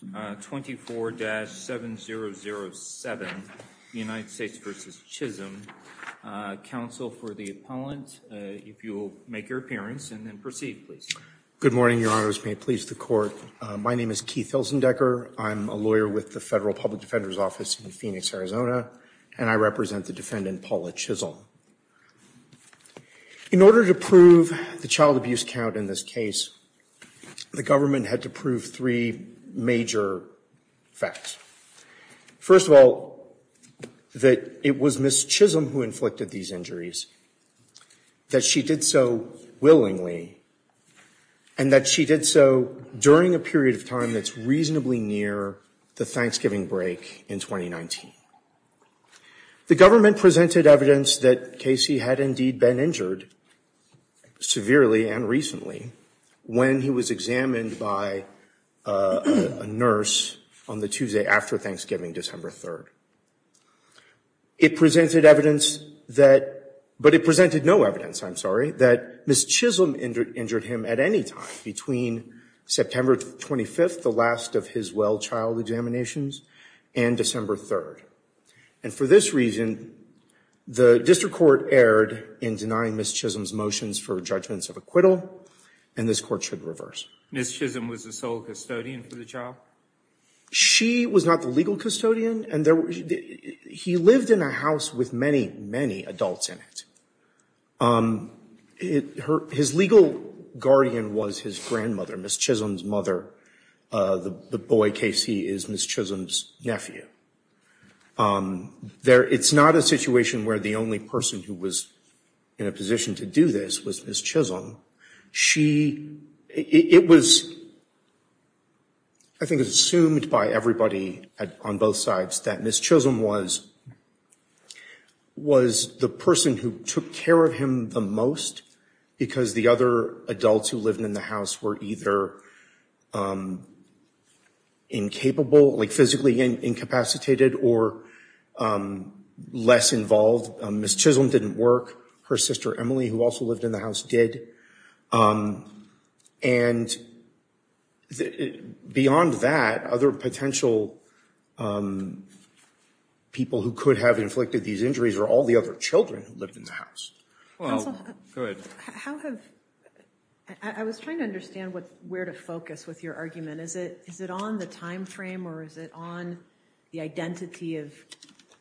24-7007, United States v. Chisholm. Counsel for the appellant, if you will make your appearance and then proceed, please. Good morning, Your Honors. May it please the Court. My name is Keith Hilsendecker. I'm a lawyer with the Federal Public Defender's Office in Phoenix, Arizona, and I represent the defendant Paula Chisholm. In order to prove the child abuse count in this case, the government had to prove three major facts. First of all, that it was Ms. Chisholm who inflicted these injuries, that she did so willingly, and that she did so during a period of time that's reasonably near the Thanksgiving break in 2019. The government presented evidence that Casey had indeed been injured, severely and recently, when he was examined by a nurse on the Tuesday after Thanksgiving, December 3rd. It presented evidence that, but it presented no evidence, I'm sorry, that Ms. Chisholm injured him at any time between September 25th, the last of his well-child examinations, and December 3rd. And for this reason, the district court erred in denying Ms. Chisholm's motions for judgments of acquittal, and this court should reverse. Ms. Chisholm was the sole custodian for the child? She was not the legal custodian, and he lived in a house with many, many adults in it. His legal guardian was his grandmother, Ms. Chisholm's mother. The boy, Casey, is Ms. Chisholm's nephew. It's not a situation where the only person who was in a position to do this was Ms. Chisholm. It was, I think, assumed by everybody on both sides that Ms. Chisholm was the person who took care of him the most, because the other adults who lived in the house were either incapable, like physically incapacitated, or less involved. Ms. Chisholm didn't work. Her sister, Emily, who also lived in the house, did. And beyond that, other potential people who could have inflicted these injuries are all the other children who lived in the house. Counsel, I was trying to understand where to focus with your argument. Is it on the time frame, or is it on the identity of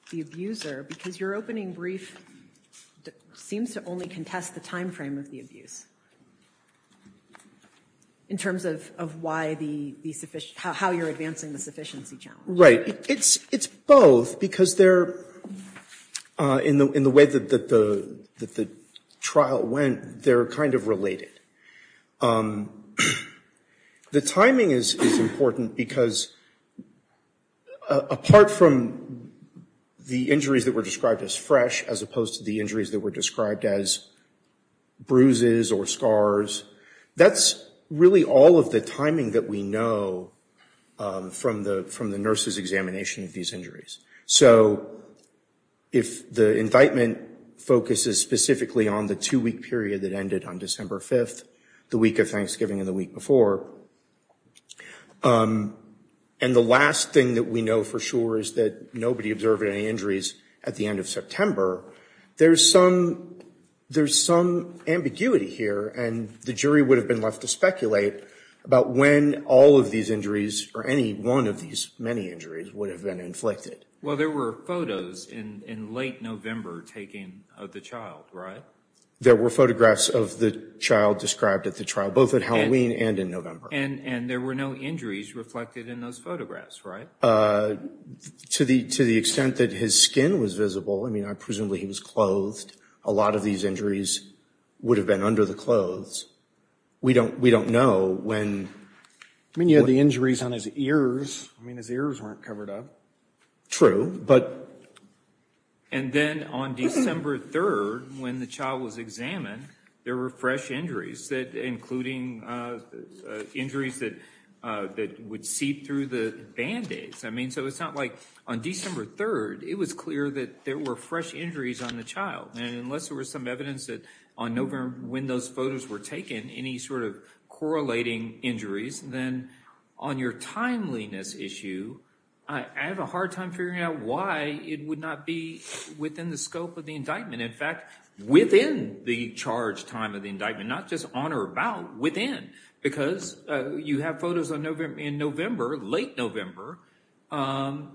the abuser? Because your opening brief seems to only contest the time frame of the abuse, in terms of how you're advancing the sufficiency challenge. Right. It's both, because they're, in the way that the trial went, they're kind of related. The timing is important, because apart from the injuries that were described as fresh, as opposed to the injuries that were described as bruises or scars, that's really all of the timing that we know from the nurse's examination of these injuries. So, if the indictment focuses specifically on the two-week period that ended on December 5th, the week of Thanksgiving and the week before, and the last thing that we know for sure is that nobody observed any injuries at the end of September, there's some ambiguity here, and the jury would have been left to speculate about when all of these injuries, or any one of these many injuries, would have been inflicted. Well, there were photos in late November taken of the child, right? There were photographs of the child described at the trial, both at Halloween and in November. And there were no injuries reflected in those photographs, right? To the extent that his skin was visible, I mean, I presume he was clothed, a lot of these injuries would have been under the clothes. We don't know when... I mean, you had the injuries on his ears. I mean, his ears weren't covered up. True, but... And then on December 3rd, when the child was examined, there were fresh injuries that, including injuries that would seep through the band-aids. I mean, so it's not like, on December 3rd, it was clear that there were fresh injuries on the child. And unless there was some evidence that on November, when those photos were taken, any sort of correlating injuries, then on your timeliness issue, I have a hard time figuring out why it would not be within the scope of the indictment. In fact, within the charge time of the indictment, not just on or about, within. Because you have photos in November, late November, of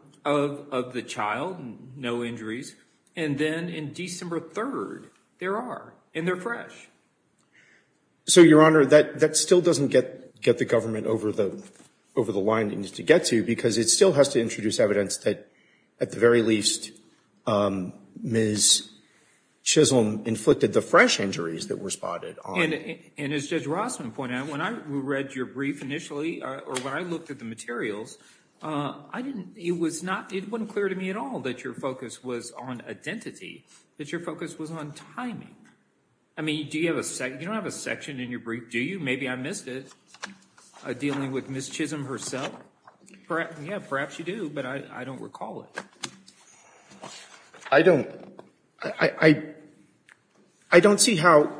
the child, no injuries. And then in December 3rd, there are, and they're fresh. So, Your Honor, that still doesn't get the government over the line it needs to get to, because it still has to introduce evidence that, at the very least, Ms. Chisholm inflicted the fresh injuries that were spotted on... And as Judge Rossman pointed out, when I read your brief initially, or when I looked at the materials, it wasn't clear to me at all that your focus was on identity, that your focus was on timing. I mean, you don't have a section in your brief, do you? Maybe I missed it, dealing with Ms. Chisholm herself. Yeah, perhaps you do, but I don't recall it. I don't. I don't see how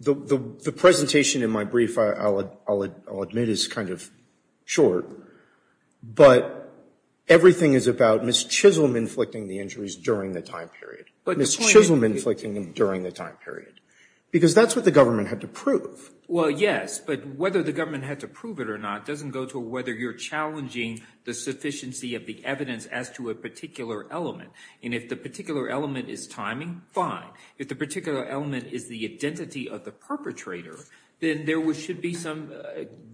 the presentation in my brief, I'll admit, is kind of short. But everything is about Ms. Chisholm inflicting the injuries during the time period. Ms. Chisholm inflicting them during the time period. Because that's what the government had to prove. Well, yes, but whether the government had to prove it or not doesn't go to whether you're challenging the sufficiency of the evidence as to a particular element. And if the particular element is timing, fine. If the particular element is the identity of the perpetrator, then there should be some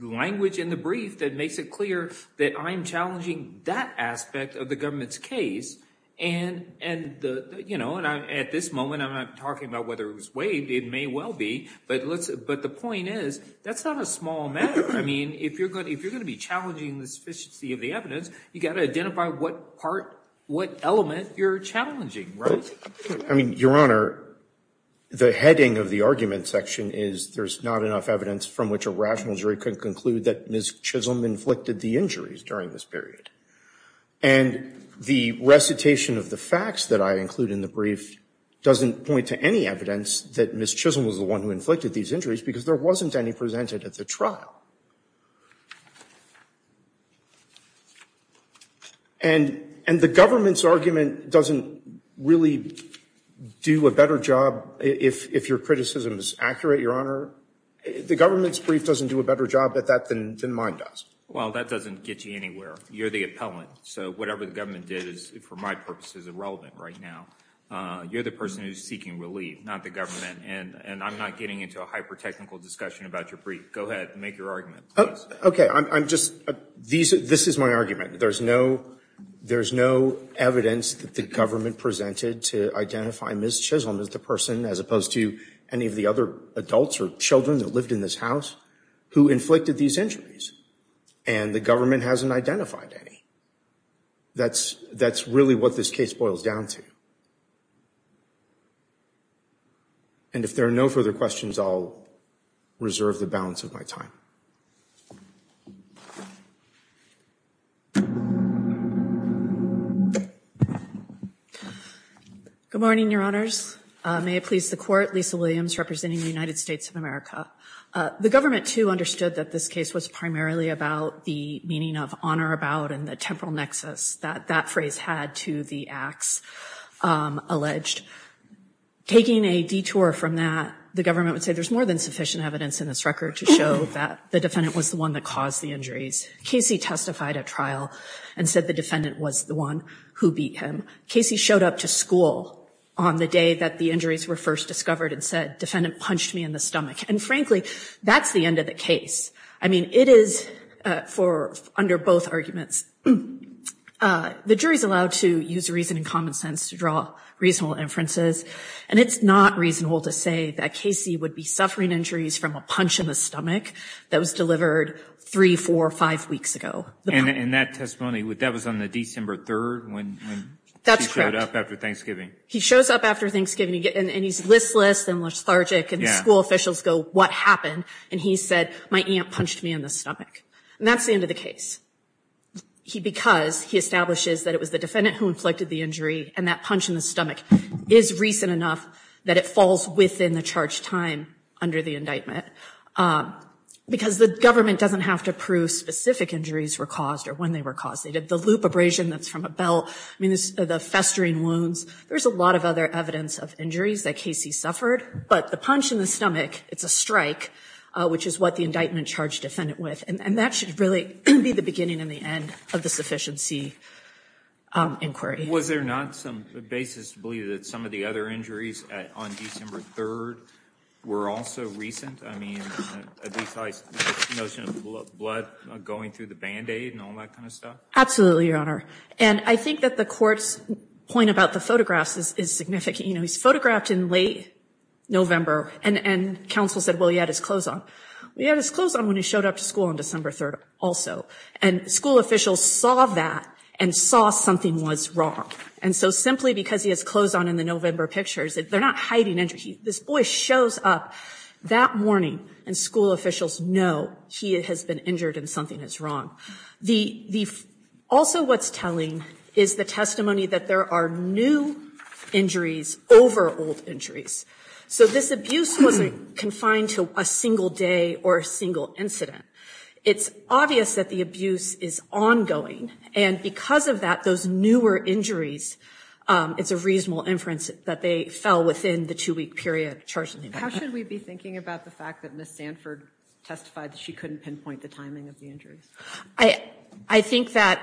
language in the brief that makes it clear that I'm challenging that aspect of the government's case. And at this moment, I'm not talking about whether it was waived. It may well be. But the point is, that's not a small matter. I mean, if you're going to be challenging the sufficiency of the evidence, you've got to The heading of the argument section is there's not enough evidence from which a rational jury could conclude that Ms. Chisholm inflicted the injuries during this period. And the recitation of the facts that I include in the brief doesn't point to any evidence that Ms. Chisholm was the one who inflicted these injuries because there wasn't any presented at the trial. And the government's argument doesn't really do a better job if your criticism is accurate, Your Honor. The government's brief doesn't do a better job at that than mine does. Well, that doesn't get you anywhere. You're the appellant. So whatever the government did is, for my purposes, irrelevant right now. You're the person who's seeking relief, not the government. And I'm not getting into a hyper-technical discussion about your brief. Go ahead, make your Okay. I'm just, this is my argument. There's no evidence that the government presented to identify Ms. Chisholm as the person, as opposed to any of the other adults or children that lived in this house, who inflicted these injuries. And the government hasn't identified any. That's really what this case boils down to. And if there are no further questions, I'll reserve the balance of my time. Good morning, Your Honors. May it please the Court, Lisa Williams, representing the United States of America. The government, too, understood that this case was primarily about the meaning of honor about and the temporal nexus that that phrase had to the acts alleged. Taking a detour from that, the government would say there's more than sufficient evidence in this record to show that the defendant was the one that caused the injuries. Casey testified at trial and said the defendant was the one who beat him. Casey showed up to school on the day that the injuries were first discovered and said, defendant punched me in the stomach. And frankly, that's the end of the case. I mean, it is for, under both arguments, the jury's allowed to use reason and common sense to draw reasonable inferences. And it's not reasonable to say that Casey would be suffering injuries from a punch in the stomach that was delivered three, four, five weeks ago. And in that testimony, that was on the December 3rd when he showed up after Thanksgiving. That's correct. He shows up after Thanksgiving and he's listless and lethargic and the school officials go, what happened? And he said, my aunt punched me in the stomach. And that's the end of the case. Because he establishes that it was the defendant who inflicted the injury and that punch in the stomach is recent enough that it falls within the charge time under the indictment. Because the government doesn't have to prove specific injuries were caused or when they were caused. They did the loop abrasion that's from a belt. I mean, the festering wounds. There's a lot of other evidence of injuries that Casey suffered. But the punch in the stomach, it's a strike, which is what the indictment charged the defendant with. And that should really be the beginning and the end of the sufficiency inquiry. Was there not some basis to believe that some of the other injuries on December 3rd were also recent? I mean, the notion of blood going through the Band-Aid and all that kind of stuff? Absolutely, Your Honor. And I think that the court's point about the photographs is significant. You know, he's photographed in late November and counsel said, well, he had his clothes on. Well, he had his clothes on when he showed up to school on December 3rd also. And school officials saw that and saw something was wrong. And so simply because he has clothes on in the November pictures, they're not hiding injuries. This boy shows up that morning and school officials know he has been injured and something is wrong. Also what's telling is the testimony that there are new injuries over old injuries. So this abuse wasn't confined to a single day or a single incident. It's obvious that the abuse is ongoing. And because of that, those newer injuries, it's a reasonable inference that they fell within the two-week period charged. How should we be thinking about the fact that Ms. Sanford testified that she couldn't pinpoint the timing of the injuries? I think that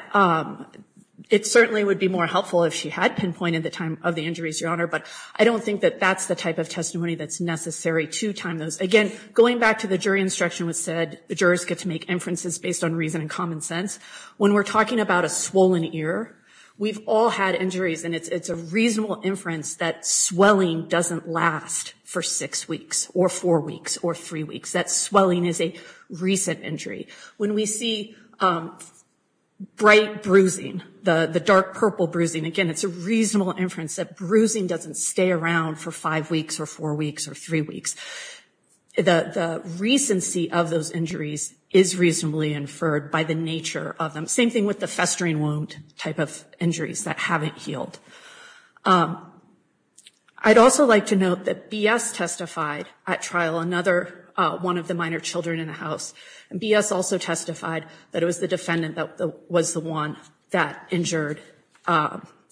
it certainly would be more helpful if she had pinpointed the time of the injuries, Your Honor. But I don't think that that's the type of testimony that's necessary to time those. Again, going back to the jury instruction that said the jurors get to make inferences based on reason and common sense. When we're talking about a swollen ear, we've all had injuries. And it's a reasonable inference that swelling doesn't last for six weeks or four weeks or three weeks. That swelling is a recent injury. When we see bright bruising, the dark purple bruising, again, it's a reasonable inference that bruising doesn't stay around for five weeks or four weeks or three weeks. The recency of those injuries is reasonably inferred by the nature of them. Same thing with the festering wound type of injuries that haven't healed. I'd also like to note that B.S. testified at trial, another one of the minor children in the house. And B.S. also testified that it was the defendant that was the one that injured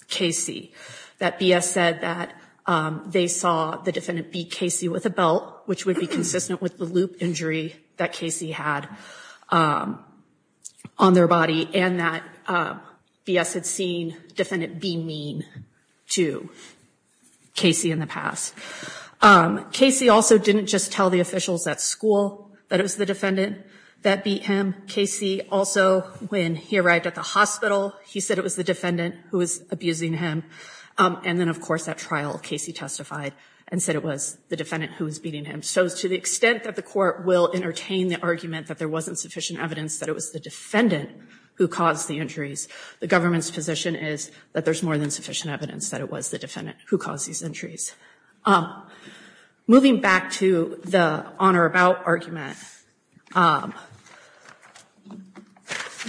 K.C. That B.S. said that they saw the defendant beat K.C. with a belt, which would be consistent with the loop injury that K.C. had on their body. And that B.S. had seen defendant be mean to K.C. in the past. K.C. also didn't just tell the officials at school that it was the defendant that beat him. K.C. also, when he arrived at the hospital, he said it was the defendant who was abusing him. And then, of course, at trial, K.C. testified and said it was the defendant who was beating him. So to the extent that the court will entertain the argument that there wasn't sufficient evidence that it was the defendant who caused the injuries, the government's position is that there's more than sufficient evidence that it was the defendant who caused these injuries. Moving back to the on or about argument,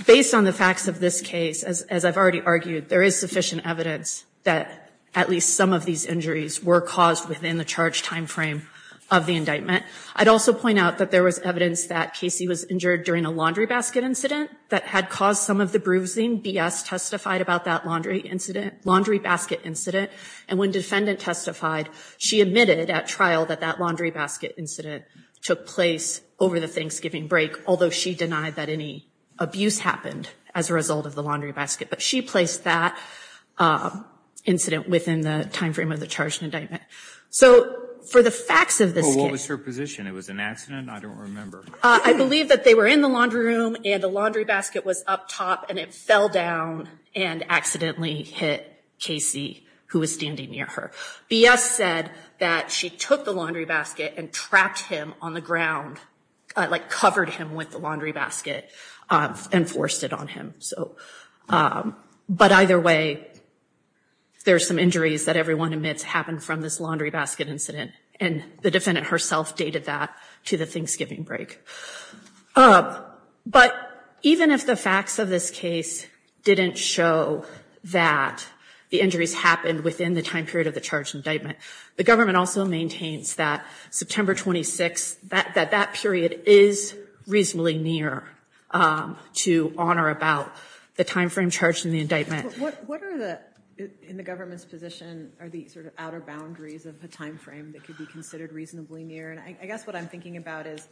based on the facts of this case, as I've already argued, there is sufficient evidence that at least some of these injuries were caused within the charge time frame of the indictment. I'd also point out that there was evidence that K.C. was injured during a laundry basket incident that had caused some of the bruising. B.S. testified about that laundry incident, laundry testified, she admitted at trial that that laundry basket incident took place over the Thanksgiving break, although she denied that any abuse happened as a result of the laundry basket. But she placed that incident within the time frame of the charge and indictment. So for the facts of this case— Oh, what was her position? It was an accident? I don't remember. I believe that they were in the laundry room, and the laundry basket was up top, and it fell down and accidentally hit K.C., who was standing near her. B.S. said that she took the laundry basket and trapped him on the ground, like covered him with the laundry basket and forced it on him. But either way, there's some injuries that everyone admits happened from this laundry basket incident, and the defendant herself dated that to the Thanksgiving break. But even if the facts of this case didn't show that the injuries happened within the time period of the charge and indictment, the government also maintains that September 26, that that period is reasonably near to on or about the time frame charged in the indictment. What are the, in the government's position, are the sort of outer boundaries of the time frame that could be considered reasonably near? And I guess what I'm thinking about is,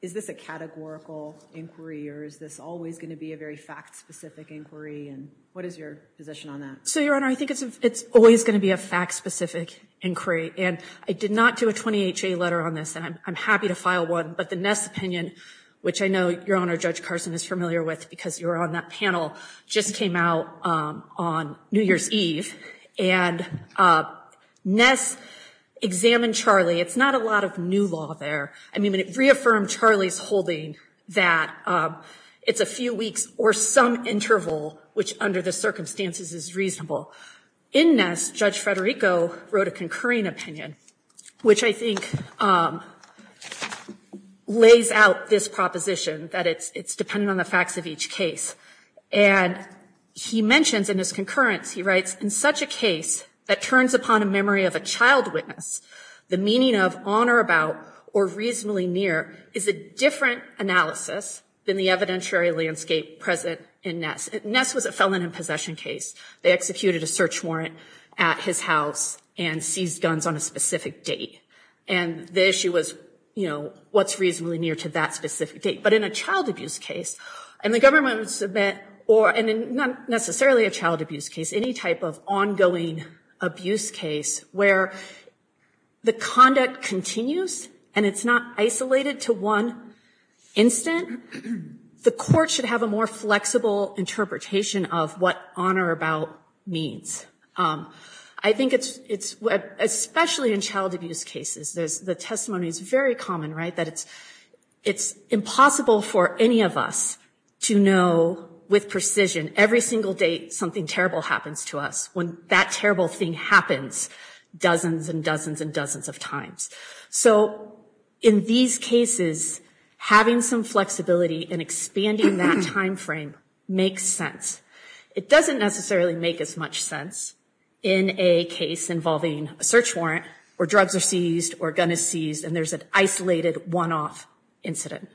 is this a categorical inquiry, or is this always going to be a very fact-specific inquiry? And what is your position on that? So, Your Honor, I think it's always going to be a fact-specific inquiry. And I did not do a 20HA letter on this, and I'm happy to file one, but the Ness opinion, which I know Your Honor, Judge Carson, is familiar with because you were on that panel, just came out on New Year's Eve. And Ness examined Charlie. It's not a lot of new law there. I mean, it reaffirmed Charlie's holding that it's a few weeks or some interval, which under the circumstances is reasonable. In Ness, Judge Federico wrote a concurring opinion, which I think lays out this proposition, that it's dependent on the facts of each case. And he mentions in his concurrence, he writes, in such a case that turns upon a memory of a child witness, the meaning of on or about or reasonably near is a different analysis than the evidentiary landscape present in Ness. Ness was a felon in possession case. They executed a search warrant at his house and seized guns on a specific date. And the issue was, you know, what's reasonably near to that specific date. But in a child abuse case, and the government would submit, or not necessarily a child abuse case, any type of ongoing abuse case where the conduct continues and it's not isolated to one instant, the court should have a more flexible interpretation of what on or about means. I think it's, especially in child abuse cases, the testimony is very common, right? That it's impossible for any of us to know with precision, every single date something terrible happens to us, when that terrible thing happens dozens and dozens and dozens of times. So in these cases, having some flexibility and expanding that time frame makes sense. It doesn't necessarily make as much sense in a case involving a search warrant, or drugs are seized, or a gun is seized, and there's an isolated one-off incident.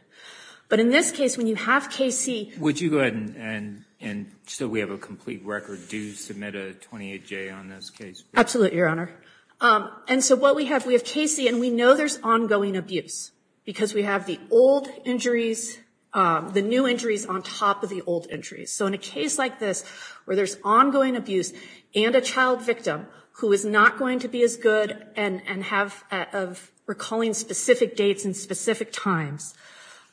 But in this case, when you have KC Would you go ahead, and so we have a complete record, do submit a 28-J on this case? Absolutely, Your Honor. And so what we have, we have KC, and we know there's ongoing abuse, because we have the old injuries, the new injuries on top of the old injuries. So in a case like this, where there's ongoing abuse, and a child victim who is not going to be as good, and have of recalling specific dates and specific times,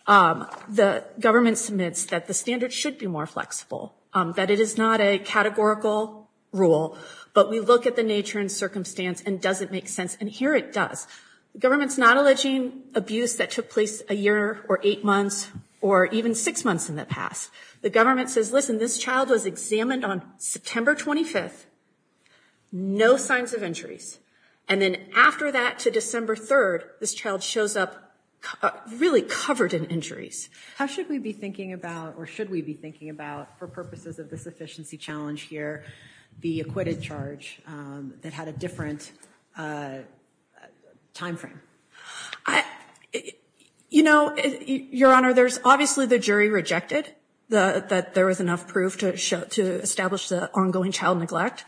the government submits that the standard should be more flexible. That it is not a categorical rule, but we look at the nature and circumstance, and does it make sense? And here it does. The government's not alleging abuse that took place a year, or eight years ago. The government on September 25th, no signs of injuries. And then after that, to December 3rd, this child shows up really covered in injuries. How should we be thinking about, or should we be thinking about, for purposes of this efficiency challenge here, the acquitted charge that had a different time frame? I, you know, Your Honor, there's obviously the jury rejected the, that there was enough proof to show, to establish the ongoing child neglect.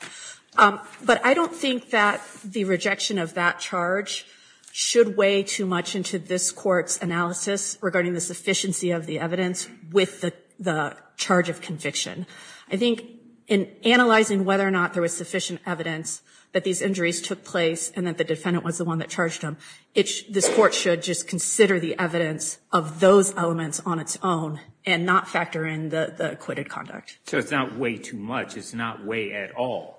But I don't think that the rejection of that charge should weigh too much into this court's analysis regarding the sufficiency of the evidence with the the charge of conviction. I think in analyzing whether or not there was sufficient evidence that these injuries took place, and that the defendant was the one that charged them, this court should just consider the evidence of those elements on its own, and not factor in the acquitted conduct. So it's not weigh too much, it's not weigh at all.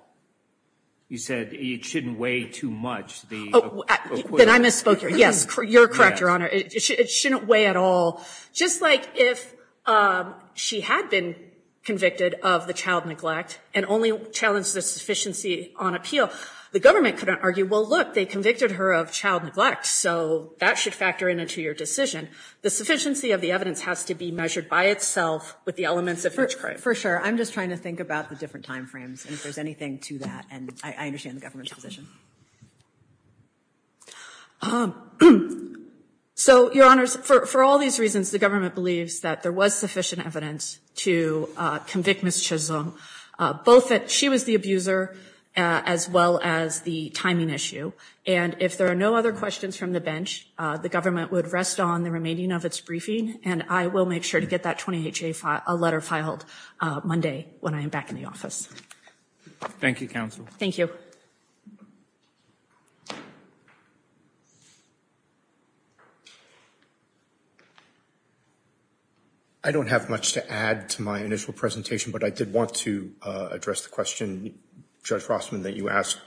You said it shouldn't weigh too much. Then I misspoke here. Yes, you're correct, Your Honor. It shouldn't weigh at all. Just like if she had been convicted of the child neglect, and only challenged the sufficiency on appeal, the government couldn't argue, well, look, they convicted her of child neglect, so that should factor into your decision. The sufficiency of the evidence has to be measured by itself with the elements of her charge. For sure. I'm just trying to think about the different time frames, and if there's anything to that, and I understand the government's position. So, Your Honors, for all these reasons, the government believes that there was sufficient evidence to convict Ms. Chisholm, both that she was the abuser, as well as the timing issue, and if there are no other questions from the bench, the government would rest on the remaining of its briefing, and I will make sure to get that 20HA letter filed Monday when I am back in the initial presentation, but I did want to address the question, Judge Rossman, that you asked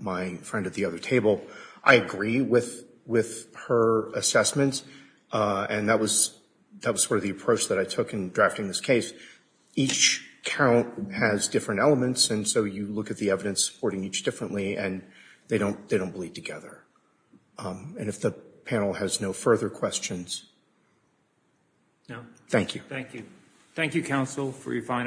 my friend at the other table. I agree with her assessment, and that was sort of the approach that I took in drafting this case. Each count has different elements, and so you look at the evidence supporting each differently, and they don't bleed together, and if the panel has no further questions. Thank you. Thank you. Thank you, counsel, for your fine arguments.